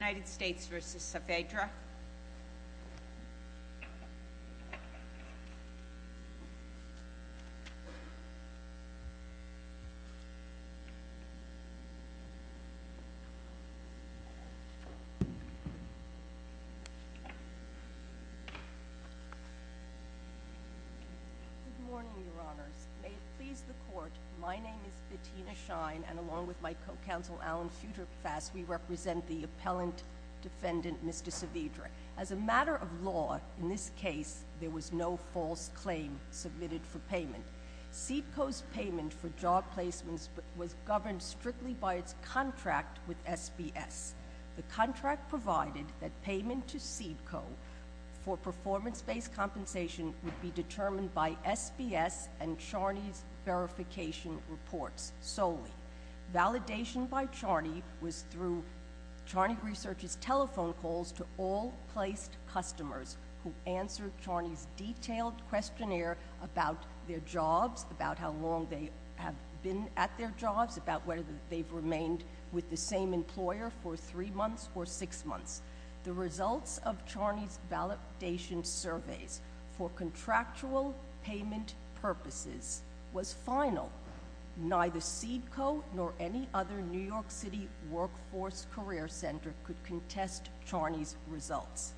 Good morning, Your Honours. May it please the Court, my name is Bettina Shine, and along with my co-counsel Alan Futerfass, we represent the appellant defendant, Mr. Saavedra. As a matter of law, in this case, there was no false claim submitted for payment. CEDCO's payment for job placements was governed strictly by its contract with SBS. The contract provided that payment to CEDCO for performance-based compensation would be determined by SBS and validation by Charney was through Charney Research's telephone calls to all placed customers who answered Charney's detailed questionnaire about their jobs, about how long they have been at their jobs, about whether they've remained with the same employer for three months or six months. The results of Charney's validation surveys for contractual payment purposes was final. Neither CEDCO nor any other New York City workforce career center could contest Charney's results.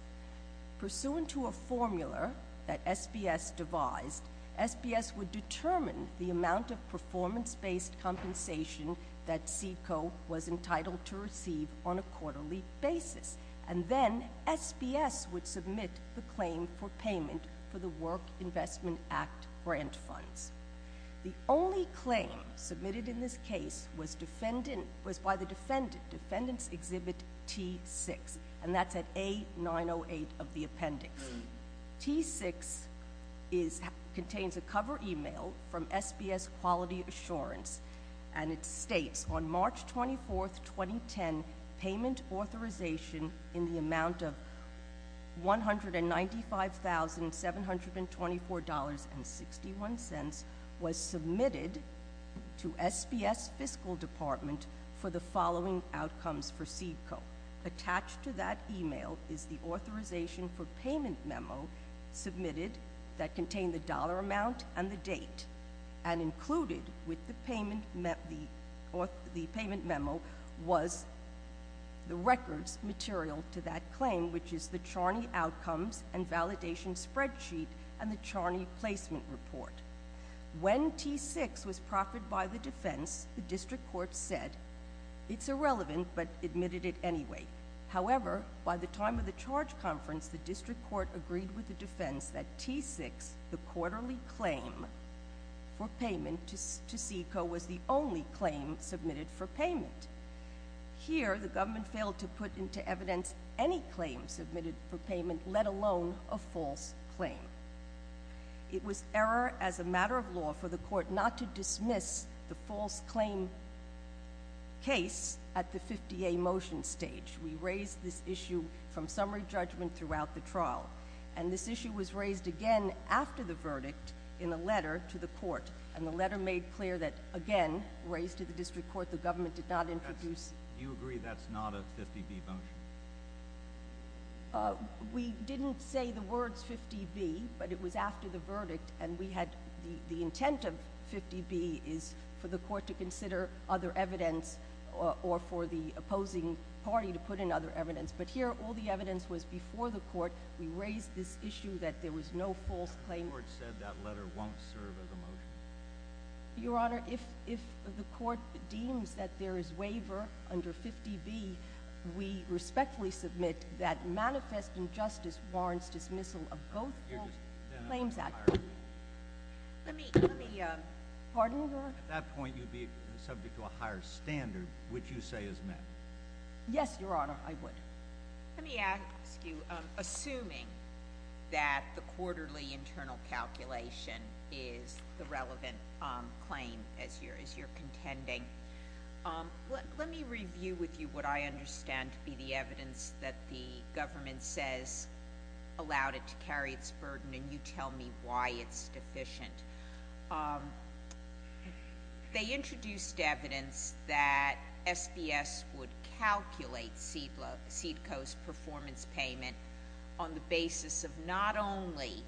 Pursuant to a formula that SBS devised, SBS would determine the amount of performance-based compensation that CEDCO was entitled to receive on a quarterly basis, and then SBS would submit the claim for payment for the Work Investment Act grant funds. The only claim submitted in this case was by the defendant, Defendant's Exhibit T6, and that's at A908 of the appendix. T6 contains a cover email from SBS Quality Assurance, and it states, on March 24, 2010, payment authorization in the amount of $195,724.61 was submitted to SBS Fiscal Department for the following outcomes for CEDCO. Attached to that email is the authorization for payment memo submitted that contained the dollar amount and the date, and included with the payment memo was the records material to that claim, which is the Charney Outcomes and Validation Spreadsheet and the Charney Placement Report. When T6 was proffered by the defense, the district court said, it's irrelevant, but admitted it anyway. However, by the time of the charge conference, the district court agreed with the defense that T6, the quarterly claim for payment to CEDCO, was the only claim submitted for payment. Here, the government failed to put into evidence any claim submitted for payment, let alone a false claim. It was error as a matter of law for the court not to dismiss the false claim case at the 50A motion stage. We raised this issue from summary judgment throughout the trial, and this issue was raised again after the verdict in a letter to the court, and the letter made clear that, again, raised to the district court, the government did not introduce... Do you agree that's not a 50B motion? We didn't say the words 50B, but it was after the verdict, and we had the intent of 50B is for the court to consider other evidence or for the opposing party to put in other evidence. The evidence was before the court. We raised this issue that there was no false claim. The district court said that letter won't serve as a motion. Your Honor, if the court deems that there is waiver under 50B, we respectfully submit that manifest injustice warrants dismissal of both false claims actually. Let me, let me, uh... Pardon, Your Honor? At that point, you'd be subject to a higher standard, which you say is met. Yes, Your Honor, I would. Let me ask you, assuming that the quarterly internal calculation is the relevant claim as you're contending, let me review with you what I understand to be the evidence that the government says allowed it to carry its burden, and you tell me why it's deficient. Um, they introduced evidence that SBS would calculate CEDCO's performance payment on the basis of not only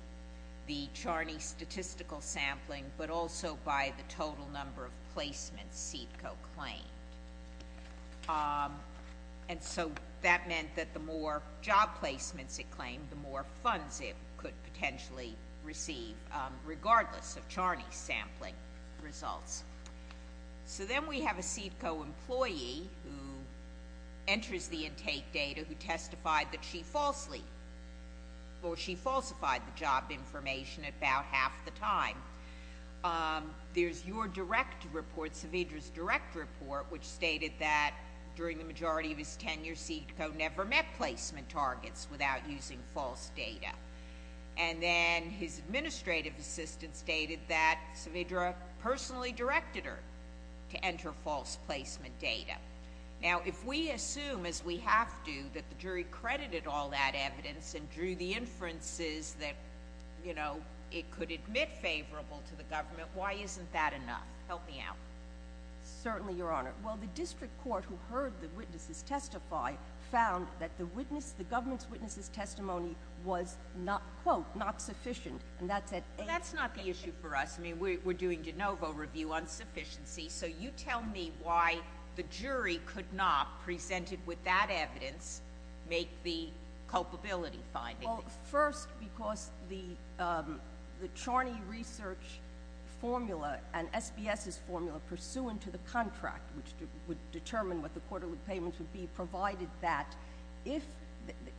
the Charney statistical sampling, but also by the total number of placements CEDCO claimed. Um, and so that meant that the more job placements it claimed, the more funds it could potentially receive, um, regardless of Charney's sampling results. So then we have a CEDCO employee who enters the intake data who testified that she falsely, or she falsified the job information about half the time. Um, there's your direct report, Saavedra's direct report, which stated that during the majority of his tenure, CEDCO never met placement targets without using false data. And then his administrative assistant stated that Saavedra personally directed her to enter false placement data. Now, if we assume, as we have to, that the jury credited all that evidence and drew the inferences that, you know, it could admit favorable to the government, why isn't that enough? Help me out. Certainly, Your Honor. Well, the district court who heard the witnesses testify found that the witness, the government's witness's testimony was not, quote, not sufficient. And that's at 8. Well, that's not the issue for us. I mean, we're doing de novo review on sufficiency. So you tell me why the jury could not, presented with that evidence, make the culpability finding. Well, first, because the, um, the Charney research formula and SBS's formula pursuant to the contract, which would determine what the quarterly payments would be, provided that, if,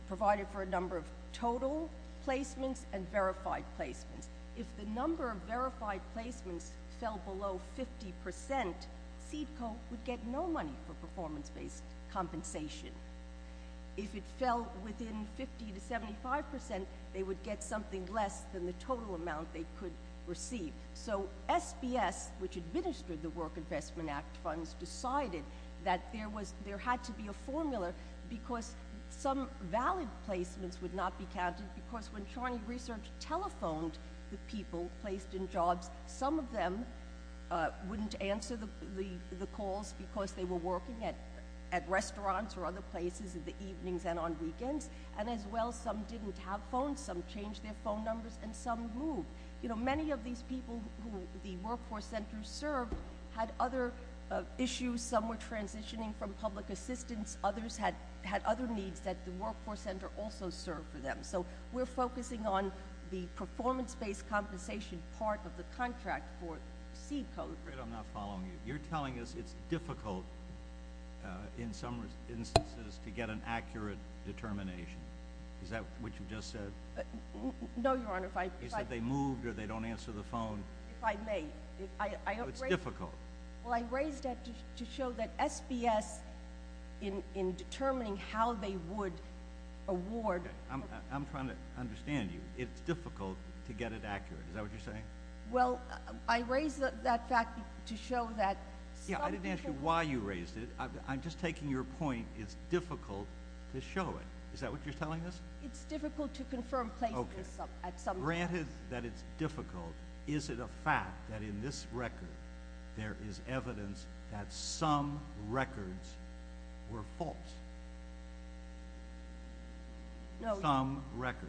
provided for a number of total placements and verified placements. If the number of verified placements fell below 50 percent, CEDCO would get no money for performance-based compensation. If it fell within 50 to 75 percent, they would get something less than the total amount they could receive. So SBS, which administered the Work Investment Act funds, decided that there was, there had to be a formula because some valid placements would not be counted because when Charney research telephoned the people placed in jobs, some of them, uh, wouldn't answer the, the, the calls because they were working at, at restaurants or other places in the evenings and on weekends. And as well, some didn't have phones, some changed their phone numbers and some moved. You know, many of these people who the Workforce Center served had other, uh, issues. Some were transitioning from public assistance. Others had, had other needs that the Workforce Center also served for them. So we're focusing on the performance-based compensation part of the contract for CEDCO. Great. I'm not following you. You're telling us it's difficult, uh, in some instances to get an accurate determination. Is that what you just said? Uh, no, Your Honor. If I— You said they moved or they don't answer the phone. If I may, if I, I don't raise— It's difficult. Well, I raised that to, to show that SBS in, in determining how they would award— I'm, I'm trying to understand you. It's difficult to get it accurate. Is that what you're saying? Well, I raised that fact to show that some people— Is that what you're telling us? It's difficult to confirm places at some— Okay. Granted that it's difficult, is it a fact that in this record there is evidence that some records were false? No, Your— Some records.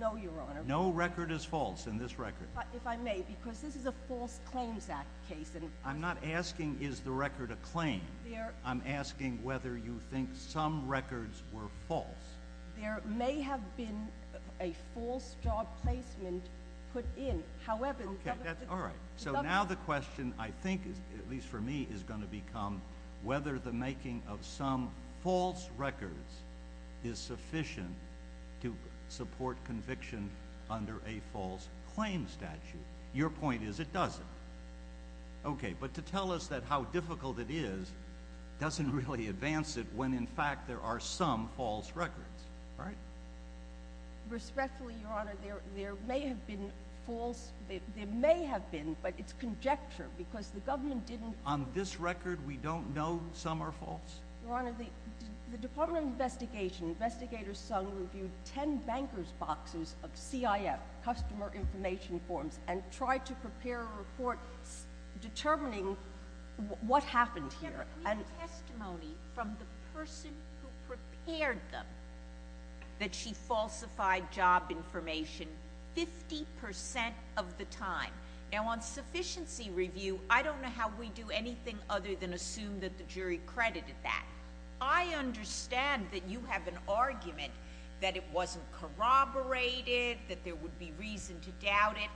No, Your Honor. No record is false in this record. But if I may, because this is a False Claims Act case and— I'm not asking is the record a claim. I'm asking whether you think some records were false. There may have been a false job placement put in, however— Okay, that's, all right. So now the question, I think, at least for me, is going to become whether the making of some false records is sufficient to support conviction under a False Claims statute. Your point is it doesn't. Okay, but to tell us that how difficult it is doesn't really advance it when in fact there are some false records, right? Respectfully, Your Honor, there may have been false, there may have been, but it's conjecture because the government didn't— On this record we don't know some are false? Your Honor, the Department of Investigation, Investigator Sung, reviewed 10 bankers' boxes of CIF, customer information forms, and tried to prepare a report determining what happened here. We have testimony from the person who prepared them that she falsified job information 50 percent of the time. Now on sufficiency review, I don't know how we do anything other than assume that the jury credited that. I understand that you have an argument that it wasn't corroborated, that there would be reason to doubt it,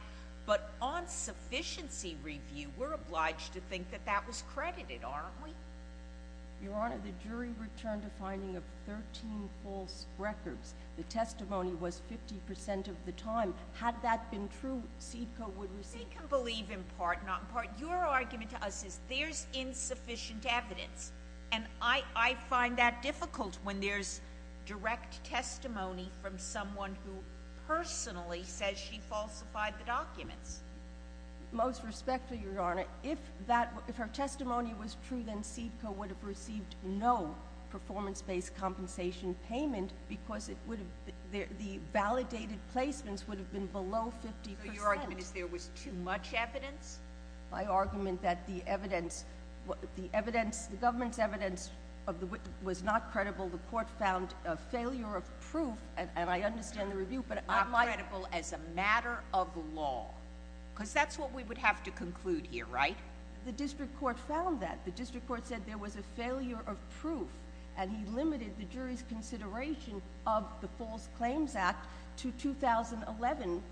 but on sufficiency review, we're obliged to think that that was credited, aren't we? Your Honor, the jury returned a finding of 13 false records. The testimony was 50 percent of the time. Had that been true, SEDCO would receive— They can believe in part, not in part. Your argument to us is there's insufficient evidence, and I find that difficult when there's direct testimony from someone who personally says she falsified the documents. Most respectfully, Your Honor, if her testimony was true, then SEDCO would have received no performance-based compensation payment because the validated placements would have been below 50 percent. So your argument is there was too much evidence? My argument that the evidence—the government's evidence was not credible. The court found a failure of proof, and I understand the review, but— It was not credible as a matter of law, because that's what we would have to conclude here, right? The district court found that. The district court said there was a failure of proof, and he limited the jury's consideration of the False Claims Act to 2011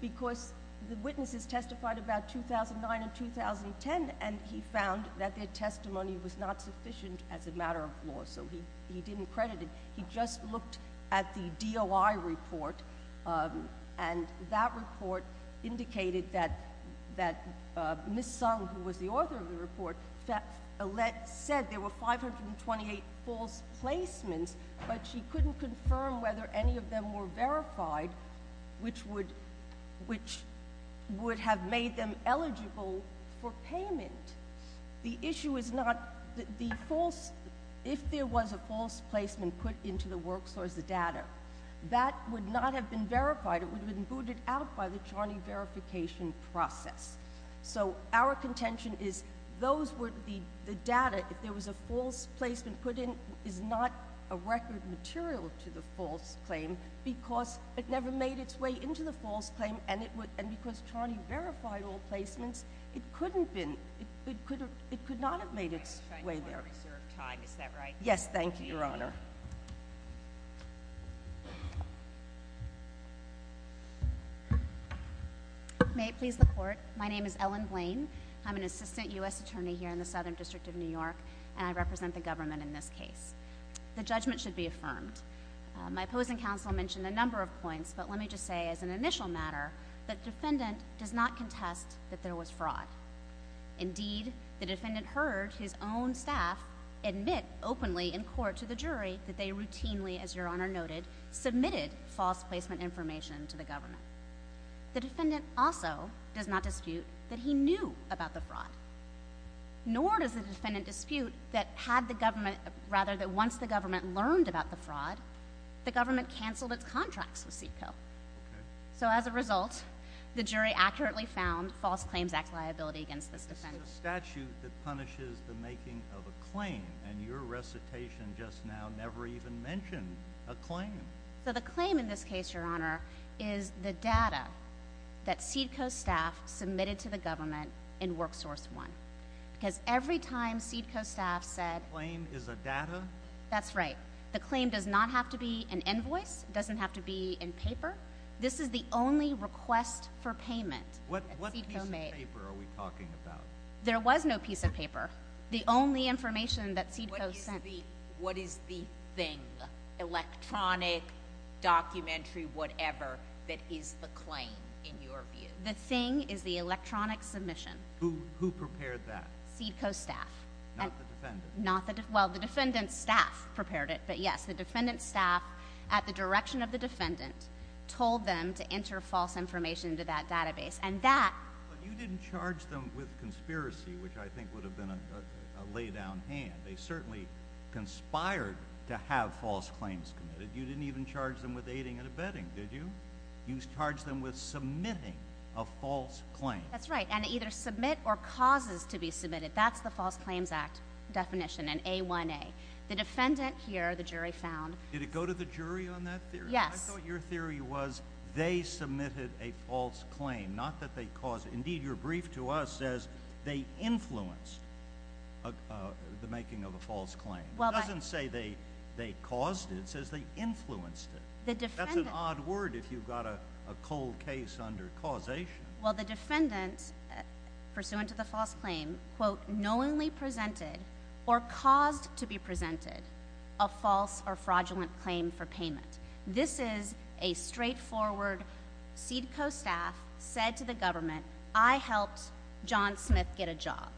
because the witnesses testified about 2009 and 2010, and he found that their testimony was not sufficient as a matter of law, so he didn't credit it. He just looked at the DOI report, and that report indicated that Ms. Sung, who was the author of the report, said there were 528 false placements, but she couldn't confirm whether any of them were verified, which would have made them eligible for payment. The issue is not the false—if there was a false placement put into the work source, the data, that would not have been verified. It would have been booted out by the Charney verification process. So, our contention is, those would be—the data, if there was a false placement put in, is not a record material to the false claim, because it never made its way into the false claim, and because Charney verified all placements, it could not have made its way there. Yes, thank you, Your Honor. May it please the Court, my name is Ellen Blain. I'm an assistant U.S. attorney here in the Southern District of New York, and I represent the government in this case. The judgment should be affirmed. My opposing counsel mentioned a number of points, but let me just say as an initial matter that the defendant does not contest that there was fraud. Indeed, the defendant heard his own staff admit openly in court to the jury that they routinely, as Your Honor noted, submitted false placement information to the government. The defendant also does not dispute that he knew about the fraud. Nor does the defendant dispute that had the government—rather, that once the government learned about the fraud, the government canceled its contracts with CEDCO. Okay. So, as a result, the jury accurately found false claims act liability against this defendant. This is a statute that punishes the making of a claim, and your recitation just now never even mentioned a claim. So the claim in this case, Your Honor, is the data that CEDCO staff submitted to the government in WorkSource One. Because every time CEDCO staff said— The claim is a data? That's right. The claim does not have to be an invoice. It doesn't have to be in paper. This is the only request for payment that CEDCO made. What piece of paper are we talking about? There was no piece of paper. The only information that CEDCO sent— What is the thing, electronic, documentary, whatever, that is the claim, in your view? The thing is the electronic submission. Who prepared that? CEDCO staff. Not the defendant? Well, the defendant's staff prepared it. But, yes, the defendant's staff, at the direction of the defendant, told them to enter false information into that database. And that— But you didn't charge them with conspiracy, which I think would have been a lay-down hand. They certainly conspired to have false claims committed. You didn't even charge them with aiding and abetting, did you? You charged them with submitting a false claim. That's right. And either submit or causes to be submitted. That's the False Claims Act definition in A1A. The defendant here, the jury found— Did it go to the jury on that theory? Yes. I thought your theory was they submitted a false claim, not that they caused it. It doesn't say they caused it. It says they influenced it. That's an odd word if you've got a cold case under causation. Well, the defendant, pursuant to the false claim, quote, This is a straightforward CEDCO staff said to the government, I helped John Smith get a job.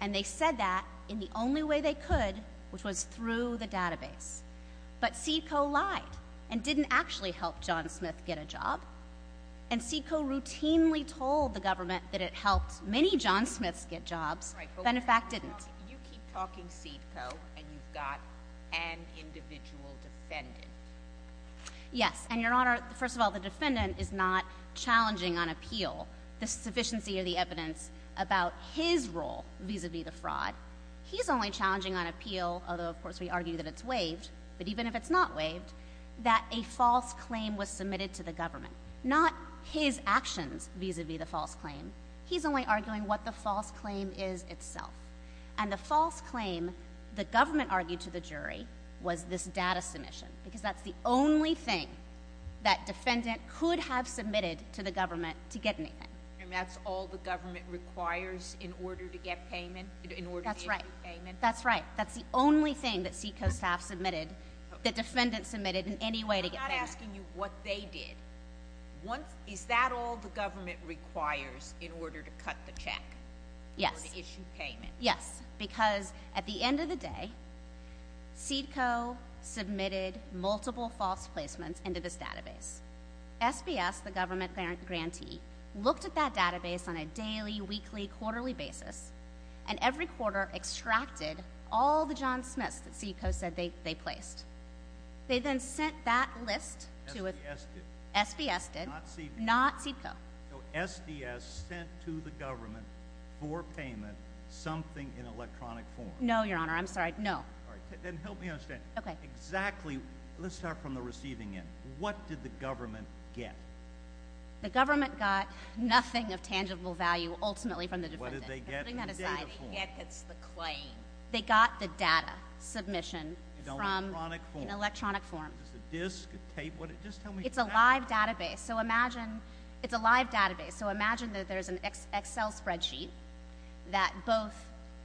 And they said that in the only way they could, which was through the database. But CEDCO lied and didn't actually help John Smith get a job. And CEDCO routinely told the government that it helped many John Smiths get jobs. Benefact didn't. You keep talking CEDCO, and you've got an individual defendant. Yes. And, Your Honor, first of all, the defendant is not challenging on appeal the sufficiency of the evidence about his role vis-a-vis the fraud. He's only challenging on appeal, although, of course, we argue that it's waived, but even if it's not waived, that a false claim was submitted to the government. Not his actions vis-a-vis the false claim. He's only arguing what the false claim is itself. And the false claim, the government argued to the jury, was this data submission because that's the only thing that defendant could have submitted to the government to get anything. And that's all the government requires in order to get payment, in order to issue payment? That's right. That's right. That's the only thing that CEDCO staff submitted that defendant submitted in any way to get payment. I'm not asking you what they did. Is that all the government requires in order to cut the check? Yes. In order to issue payment? Yes. Because at the end of the day, CEDCO submitted multiple false placements into this database. SBS, the government grantee, looked at that database on a daily, weekly, quarterly basis, and every quarter extracted all the John Smiths that CEDCO said they placed. They then sent that list to a— SBS did. SBS did. Not CEDCO. Not CEDCO. So SBS sent to the government for payment something in electronic form. No, Your Honor. I'm sorry. No. All right. Then help me understand. Okay. Exactly. Let's start from the receiving end. What did the government get? The government got nothing of tangible value, ultimately, from the defendant. What did they get in data form? That's what I'm going to say. What did they get that's the claim? They got the data submission from— In electronic form. In electronic form. Was it a disk, a tape? Just tell me exactly. It's a live database. It's a live database. So imagine that there's an Excel spreadsheet that both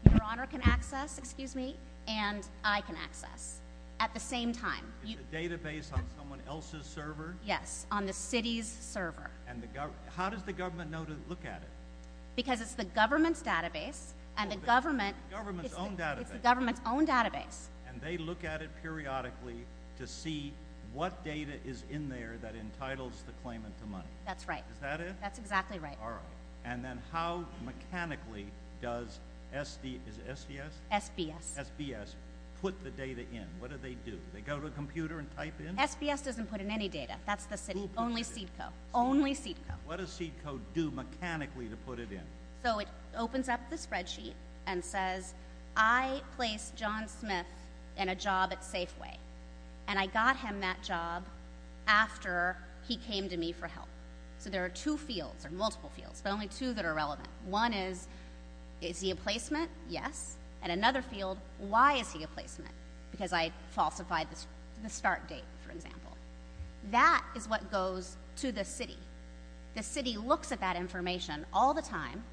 Your Honor can access, excuse me, and I can access at the same time. It's a database on someone else's server? Yes, on the city's server. How does the government know to look at it? Because it's the government's database, and the government— The government's own database. It's the government's own database. And they look at it periodically to see what data is in there that entitles the claimant to money. That's right. Is that it? That's exactly right. All right. And then how mechanically does SDS—is it SDS? SBS. SBS. Put the data in. What do they do? They go to a computer and type in? SBS doesn't put in any data. That's the city. Who put it in? Only CEDCO. Only CEDCO. What does CEDCO do mechanically to put it in? So it opens up the spreadsheet and says, I placed John Smith in a job at Safeway, and I got him that job after he came to me for help. So there are two fields, or multiple fields, but only two that are relevant. One is, is he a placement? Yes. And another field, why is he a placement? Because I falsified the start date, for example. That is what goes to the city. The city looks at that information all the time,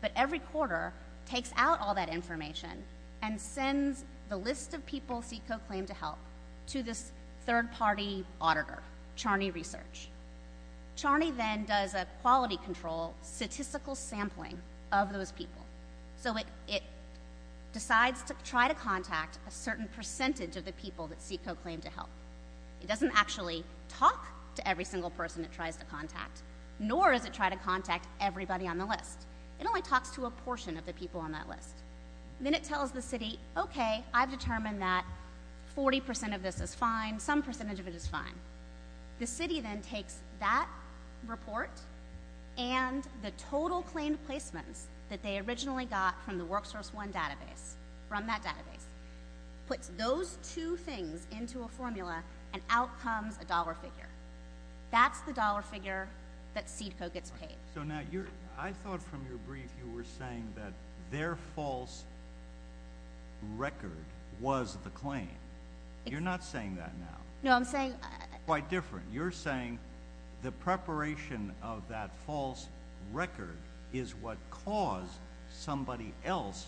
but every quarter takes out all that information and sends the list of people CEDCO claimed to help to this third-party auditor, Charney Research. Charney then does a quality control, statistical sampling of those people. So it decides to try to contact a certain percentage of the people that CEDCO claimed to help. It doesn't actually talk to every single person it tries to contact, nor does it try to contact everybody on the list. It only talks to a portion of the people on that list. Then it tells the city, okay, I've determined that 40% of this is fine, some percentage of it is fine. The city then takes that report and the total claimed placements that they originally got from the WorkSource One database, from that database, puts those two things into a formula, and out comes a dollar figure. That's the dollar figure that CEDCO gets paid. So now I thought from your brief you were saying that their false record was the claim. You're not saying that now. No, I'm saying... Quite different. You're saying the preparation of that false record is what caused somebody else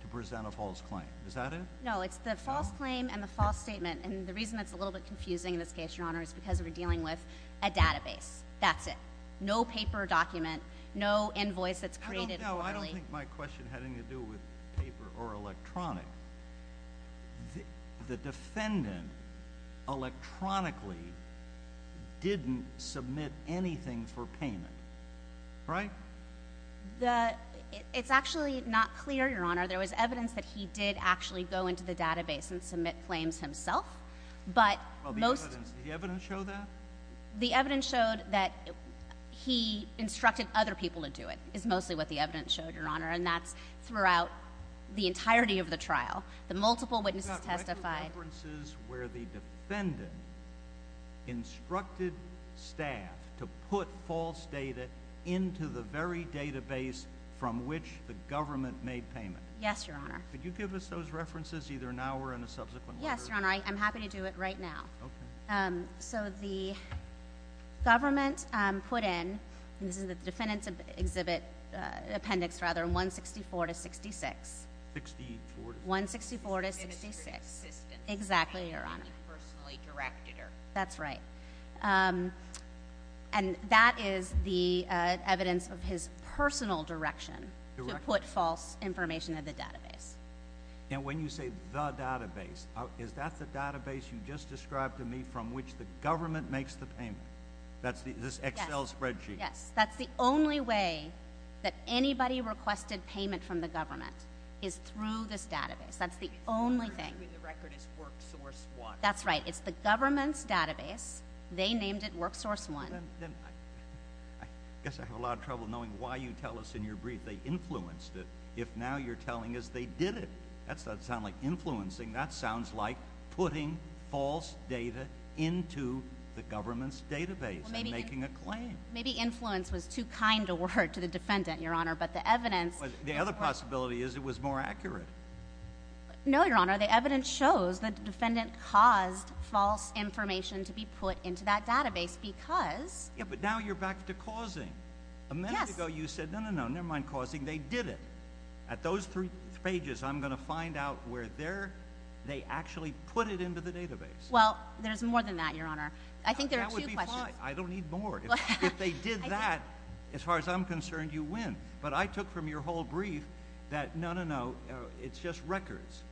to present a false claim. Is that it? No, it's the false claim and the false statement. The reason that's a little bit confusing in this case, Your Honor, is because we're dealing with a database. That's it. No paper document, no invoice that's created formally. I don't know. I don't think my question had anything to do with paper or electronic. The defendant electronically didn't submit anything for payment. Right? It's actually not clear, Your Honor. There was evidence that he did actually go into the database and submit claims himself. The evidence show that? The evidence showed that he instructed other people to do it is mostly what the evidence showed, Your Honor, and that's throughout the entirety of the trial. The multiple witnesses testified. Could you give us references where the defendant instructed staff to put false data into the very database from which the government made payment? Yes, Your Honor. Could you give us those references either now or in a subsequent order? Yes, Your Honor. I'm happy to do it right now. Okay. So the government put in, and this is the defendant's appendix, rather, 164-66. 64-66. 164-66. Exactly, Your Honor. And he personally directed her. That's right. And that is the evidence of his personal direction to put false information in the database. And when you say the database, is that the database you just described to me from which the government makes the payment? That's this Excel spreadsheet? Yes. That's the only way that anybody requested payment from the government is through this database. That's the only thing. The record is WorkSource 1. That's right. It's the government's database. They named it WorkSource 1. Then I guess I have a lot of trouble knowing why you tell us in your brief they influenced it if now you're telling us they didn't. That doesn't sound like influencing. That sounds like putting false data into the government's database and making a claim. Maybe influence was too kind a word to the defendant, Your Honor. The other possibility is it was more accurate. No, Your Honor. The evidence shows the defendant caused false information to be put into that database because... But now you're back to causing. A minute ago you said, no, no, no, never mind causing. They did it. At those three pages, I'm going to find out where they actually put it into the database. Well, there's more than that, Your Honor. I think there are two questions. I don't need more. If they did that, as far as I'm concerned, you win. But I took from your whole brief that, no, no, no, it's just records.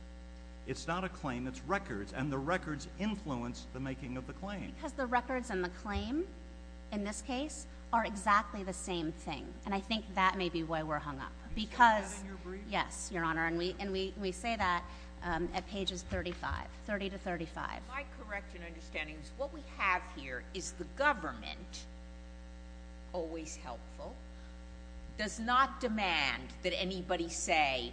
It's not a claim. It's records. And the records influence the making of the claim. Because the records and the claim, in this case, are exactly the same thing. And I think that may be why we're hung up. You said that in your brief? Yes, Your Honor. And we say that at pages 35, 30 to 35. My correct understanding is what we have here is the government, always helpful, does not demand that anybody say,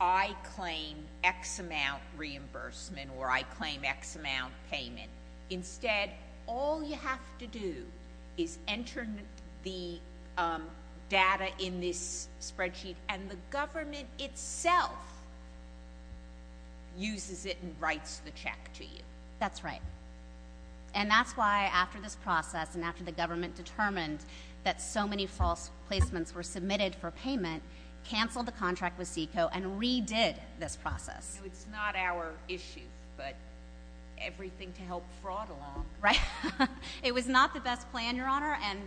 I claim X amount reimbursement or I claim X amount payment. Instead, all you have to do is enter the data in this spreadsheet, and the government itself uses it and writes the check to you. That's right. And that's why, after this process and after the government determined that so many false placements were submitted for payment, canceled the contract with SECO and redid this process. It's not our issue, but everything to help fraud along. Right. It was not the best plan, Your Honor, and,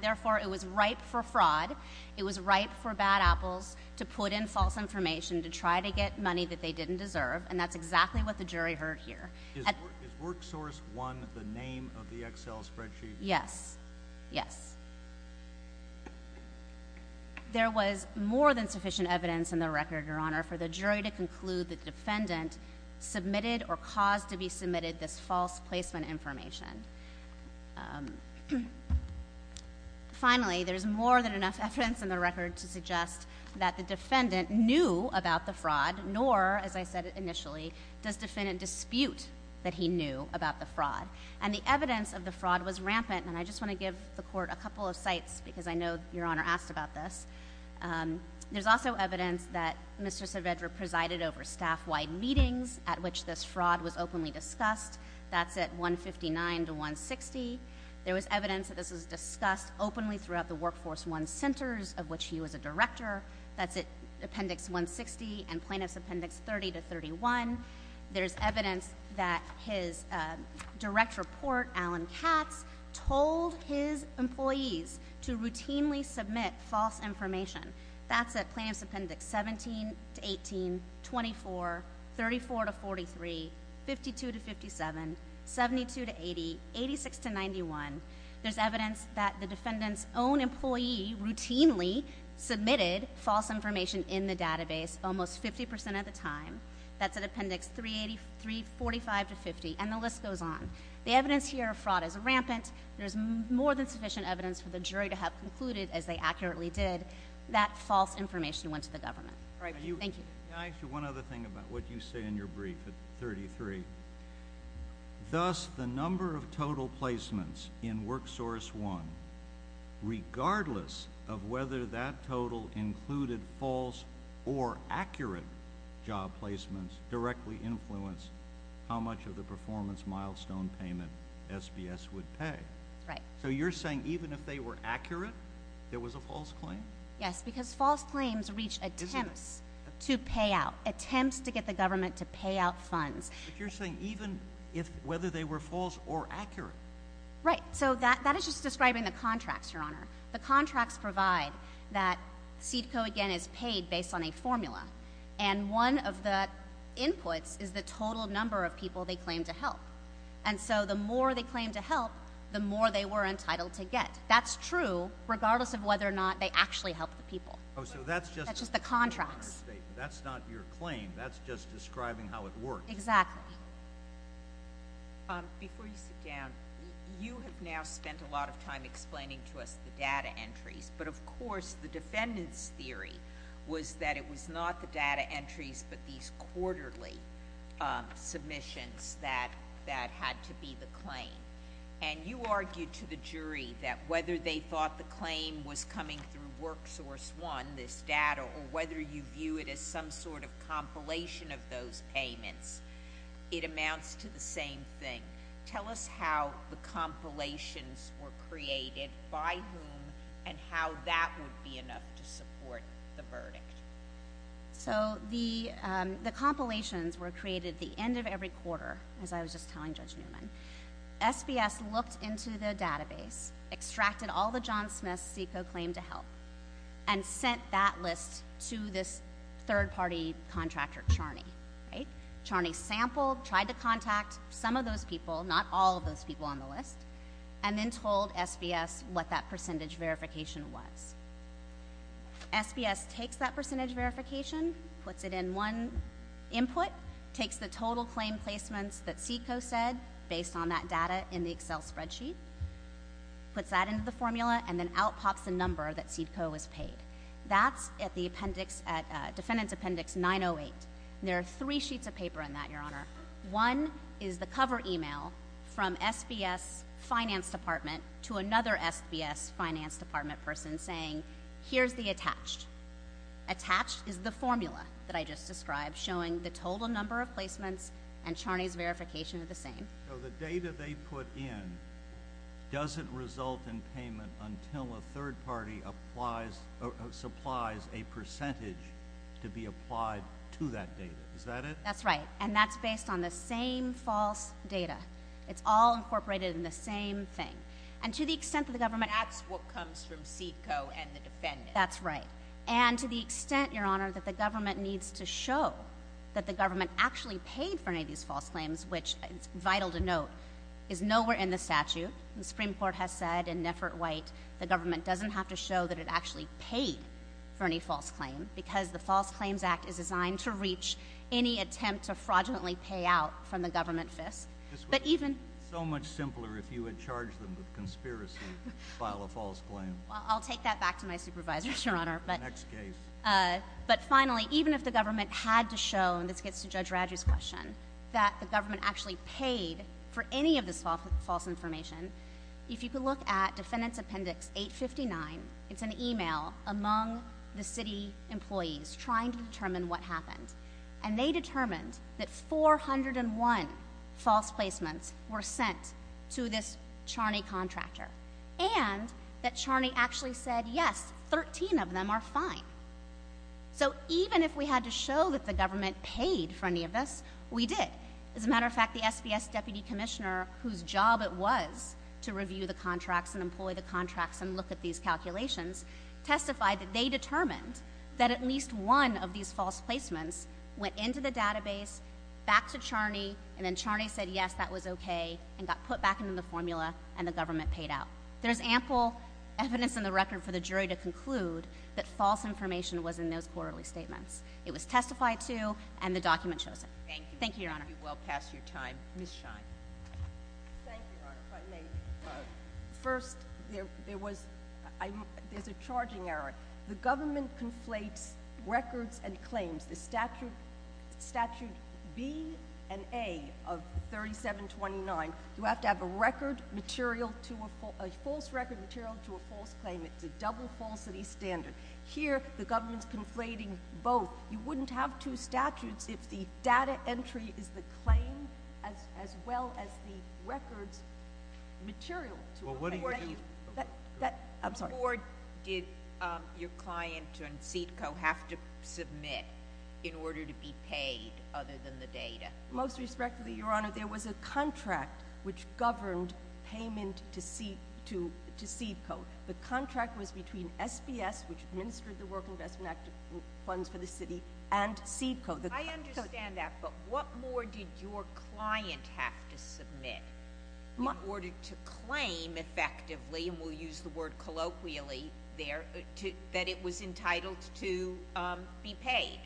therefore, it was ripe for fraud. It was ripe for bad apples to put in false information to try to get money that they didn't deserve, and that's exactly what the jury heard here. Is WorkSource 1 the name of the Excel spreadsheet? Yes. Yes. There was more than sufficient evidence in the record, Your Honor, for the jury to conclude that the defendant submitted or caused to be submitted this false placement information. Finally, there's more than enough evidence in the record to suggest that the defendant knew about the fraud, nor, as I said initially, does defendant dispute that he knew about the fraud. And the evidence of the fraud was rampant, and I just want to give the Court a couple of sites because I know Your Honor asked about this. There's also evidence that Mr. Saavedra presided over staff-wide meetings at which this fraud was openly discussed. That's at 159 to 160. There was evidence that this was discussed openly throughout the WorkForce 1 centers of which he was a director. That's at Appendix 160 and Plaintiff's Appendix 30 to 31. There's evidence that his direct report, Alan Katz, told his employees to routinely submit false information. That's at Plaintiff's Appendix 17 to 18, 24, 34 to 43, 52 to 57, 72 to 80, 86 to 91. There's evidence that the defendant's own employee routinely submitted false information in the database almost 50% of the time. That's at Appendix 345 to 50, and the list goes on. The evidence here of fraud is rampant. There's more than sufficient evidence for the jury to have concluded, as they accurately did, that false information went to the government. Thank you. Can I ask you one other thing about what you say in your brief at 33? Thus, the number of total placements in WorkSource 1, regardless of whether that total included false or accurate job placements, directly influenced how much of the performance milestone payment SBS would pay. Right. So you're saying even if they were accurate, there was a false claim? Yes, because false claims reach attempts to pay out, attempts to get the government to pay out funds. But you're saying even if whether they were false or accurate. Right. So that is just describing the contracts, Your Honor. The contracts provide that CEDCO, again, is paid based on a formula, and one of the inputs is the total number of people they claim to help. And so the more they claim to help, the more they were entitled to get. That's true, regardless of whether or not they actually helped the people. Oh, so that's just— That's just the contracts. That's not your claim. That's just describing how it works. Exactly. Before you sit down, you have now spent a lot of time explaining to us the data entries. But, of course, the defendant's theory was that it was not the data entries but these quarterly submissions that had to be the claim. And you argued to the jury that whether they thought the claim was coming through WorkSource 1, this data, or whether you view it as some sort of compilation of those payments, it amounts to the same thing. Tell us how the compilations were created, by whom, and how that would be enough to support the verdict. So the compilations were created the end of every quarter, as I was just telling Judge Newman. SBS looked into the database, extracted all the John Smith CICO claim to help, and sent that list to this third-party contractor, Charney. Charney sampled, tried to contact some of those people, not all of those people on the list, and then told SBS what that percentage verification was. SBS takes that percentage verification, puts it in one input, takes the total claim placements that CICO said, based on that data in the Excel spreadsheet, puts that into the formula, and then out pops the number that CICO was paid. That's at the appendix, at defendant's appendix 908. There are three sheets of paper in that, Your Honor. One is the cover email from SBS finance department to another SBS finance department person saying, here's the attached. Attached is the formula that I just described, showing the total number of placements and Charney's verification are the same. So the data they put in doesn't result in payment until a third party supplies a percentage to be applied to that data. Is that it? That's right, and that's based on the same false data. It's all incorporated in the same thing. And to the extent that the government— That's what comes from CICO and the defendant. That's right. And to the extent, Your Honor, that the government needs to show that the government actually paid for any of these false claims, which is vital to note, is nowhere in the statute. The Supreme Court has said in Neffert-White the government doesn't have to show that it actually paid for any false claim because the False Claims Act is designed to reach any attempt to fraudulently pay out from the government fisc. This would be so much simpler if you had charged them with conspiracy to file a false claim. I'll take that back to my supervisor, Your Honor. Next case. But finally, even if the government had to show, and this gets to Judge Raddrey's question, that the government actually paid for any of this false information, if you could look at Defendant's Appendix 859, it's an email among the city employees trying to determine what happened. And they determined that 401 false placements were sent to this Charney contractor and that Charney actually said, yes, 13 of them are fine. So even if we had to show that the government paid for any of this, we did. As a matter of fact, the SBS Deputy Commissioner, whose job it was to review the contracts and employ the contracts and look at these calculations, testified that they determined that at least one of these false placements went into the database, back to Charney, and then Charney said, yes, that was okay, and got put back into the formula, and the government paid out. There's ample evidence in the record for the jury to conclude that false information was in those quarterly statements. It was testified to, and the document shows it. Thank you. Thank you, Your Honor. You've well passed your time. Ms. Schein. Thank you, Your Honor, if I may. First, there's a charging error. The government conflates records and claims. The Statute B and A of 3729, you have to have a record material to a false claim. It's a double falsity standard. Here, the government's conflating both. You wouldn't have two statutes if the data entry is the claim as well as the records material. Well, what do you do? I'm sorry. Or did your client and CEDCO have to submit in order to be paid other than the data? Most respectfully, Your Honor, there was a contract which governed payment to CEDCO. The contract was between SBS, which administered the Work Investment Act funds for the city, and CEDCO. I understand that, but what more did your client have to submit in order to claim effectively, and we'll use the word colloquially there, that it was entitled to be paid?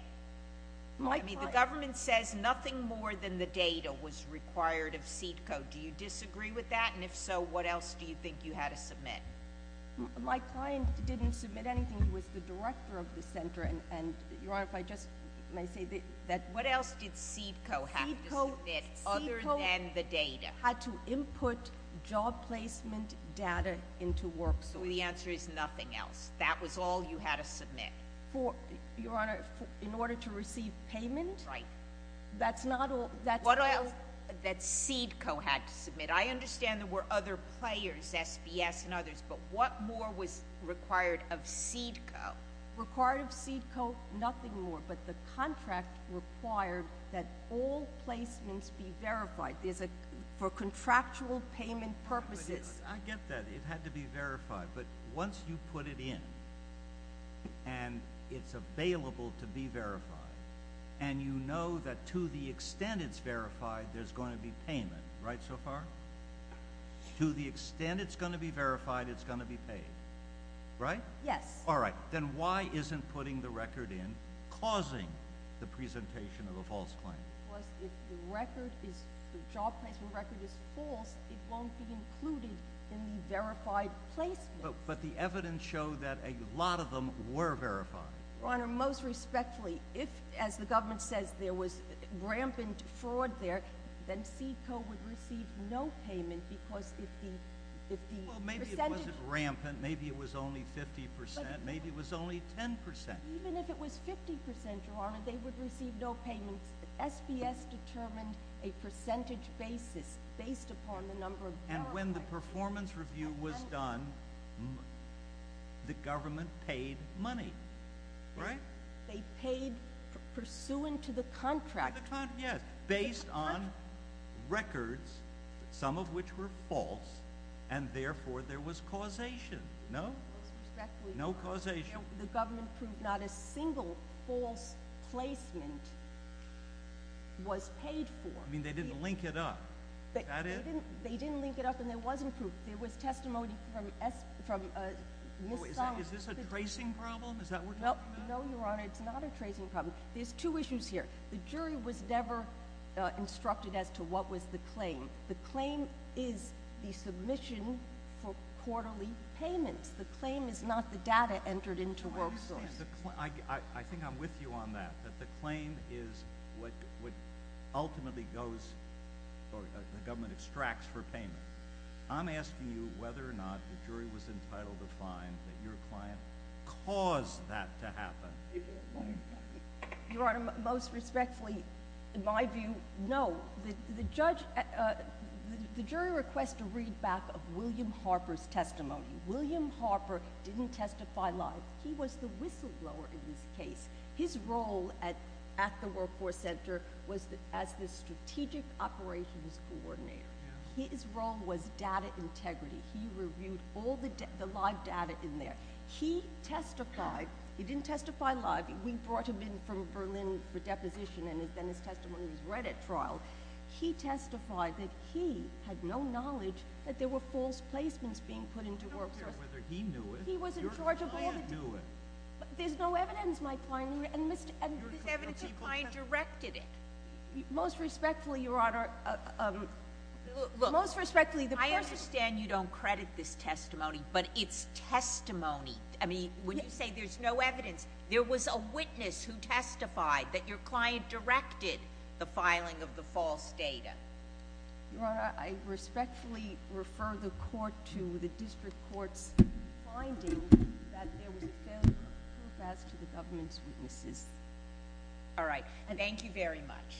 My client. I mean, the government says nothing more than the data was required of CEDCO. Do you disagree with that? And if so, what else do you think you had to submit? My client didn't submit anything. He was the director of the center, and, Your Honor, if I just may say that— What else did CEDCO have to submit other than the data? CEDCO had to input job placement data into WorkSource. The answer is nothing else. That was all you had to submit? Your Honor, in order to receive payment? Right. That's not all. That CEDCO had to submit. I understand there were other players, SBS and others, but what more was required of CEDCO? Required of CEDCO, nothing more, but the contract required that all placements be verified for contractual payment purposes. I get that. It had to be verified, but once you put it in and it's available to be verified, and you know that to the extent it's verified, there's going to be payment. Right so far? To the extent it's going to be verified, it's going to be paid. Right? Yes. All right. Then why isn't putting the record in causing the presentation of a false claim? Because if the job placement record is false, it won't be included in the verified placement. But the evidence showed that a lot of them were verified. Your Honor, most respectfully, if, as the government says, there was rampant fraud there, then CEDCO would receive no payment because if the percentage Well, maybe it wasn't rampant. Maybe it was only 50 percent. Maybe it was only 10 percent. Even if it was 50 percent, Your Honor, they would receive no payments. SBS determined a percentage basis based upon the number of verified the performance review was done, the government paid money. Right? They paid pursuant to the contract. Yes, based on records, some of which were false, and therefore there was causation. No? Most respectfully, Your Honor, the government proved not a single false placement was paid for. I mean, they didn't link it up. That is? They didn't link it up, and there wasn't proof. There was testimony from Ms. Thompson. Is this a tracing problem? Is that what you're talking about? No, Your Honor, it's not a tracing problem. There's two issues here. The jury was never instructed as to what was the claim. The claim is the submission for quarterly payments. The claim is not the data entered into WorkSource. I think I'm with you on that, that the claim is what ultimately goes or the government extracts for payment. I'm asking you whether or not the jury was entitled to find that your client caused that to happen. Your Honor, most respectfully, in my view, no. The jury requests a readback of William Harper's testimony. William Harper didn't testify live. He was the whistleblower in this case. His role at the Workforce Center was as the strategic operations coordinator. His role was data integrity. He reviewed all the live data in there. He testified. He didn't testify live. We brought him in from Berlin for deposition, and then his testimony was read at trial. He testified that he had no knowledge that there were false placements being put into WorkSource. I don't care whether he knew it. He was in charge of all the— Your client knew it. There's no evidence my client knew it. And this evidence, your client directed it. Most respectfully, Your Honor, most respectfully— Look, I understand you don't credit this testimony, but it's testimony. I mean, when you say there's no evidence, there was a witness who testified that your client directed the filing of the false data. Your Honor, I respectfully refer the court to the district court's finding that there was no evidence as to the government's witnesses. All right. Thank you very much.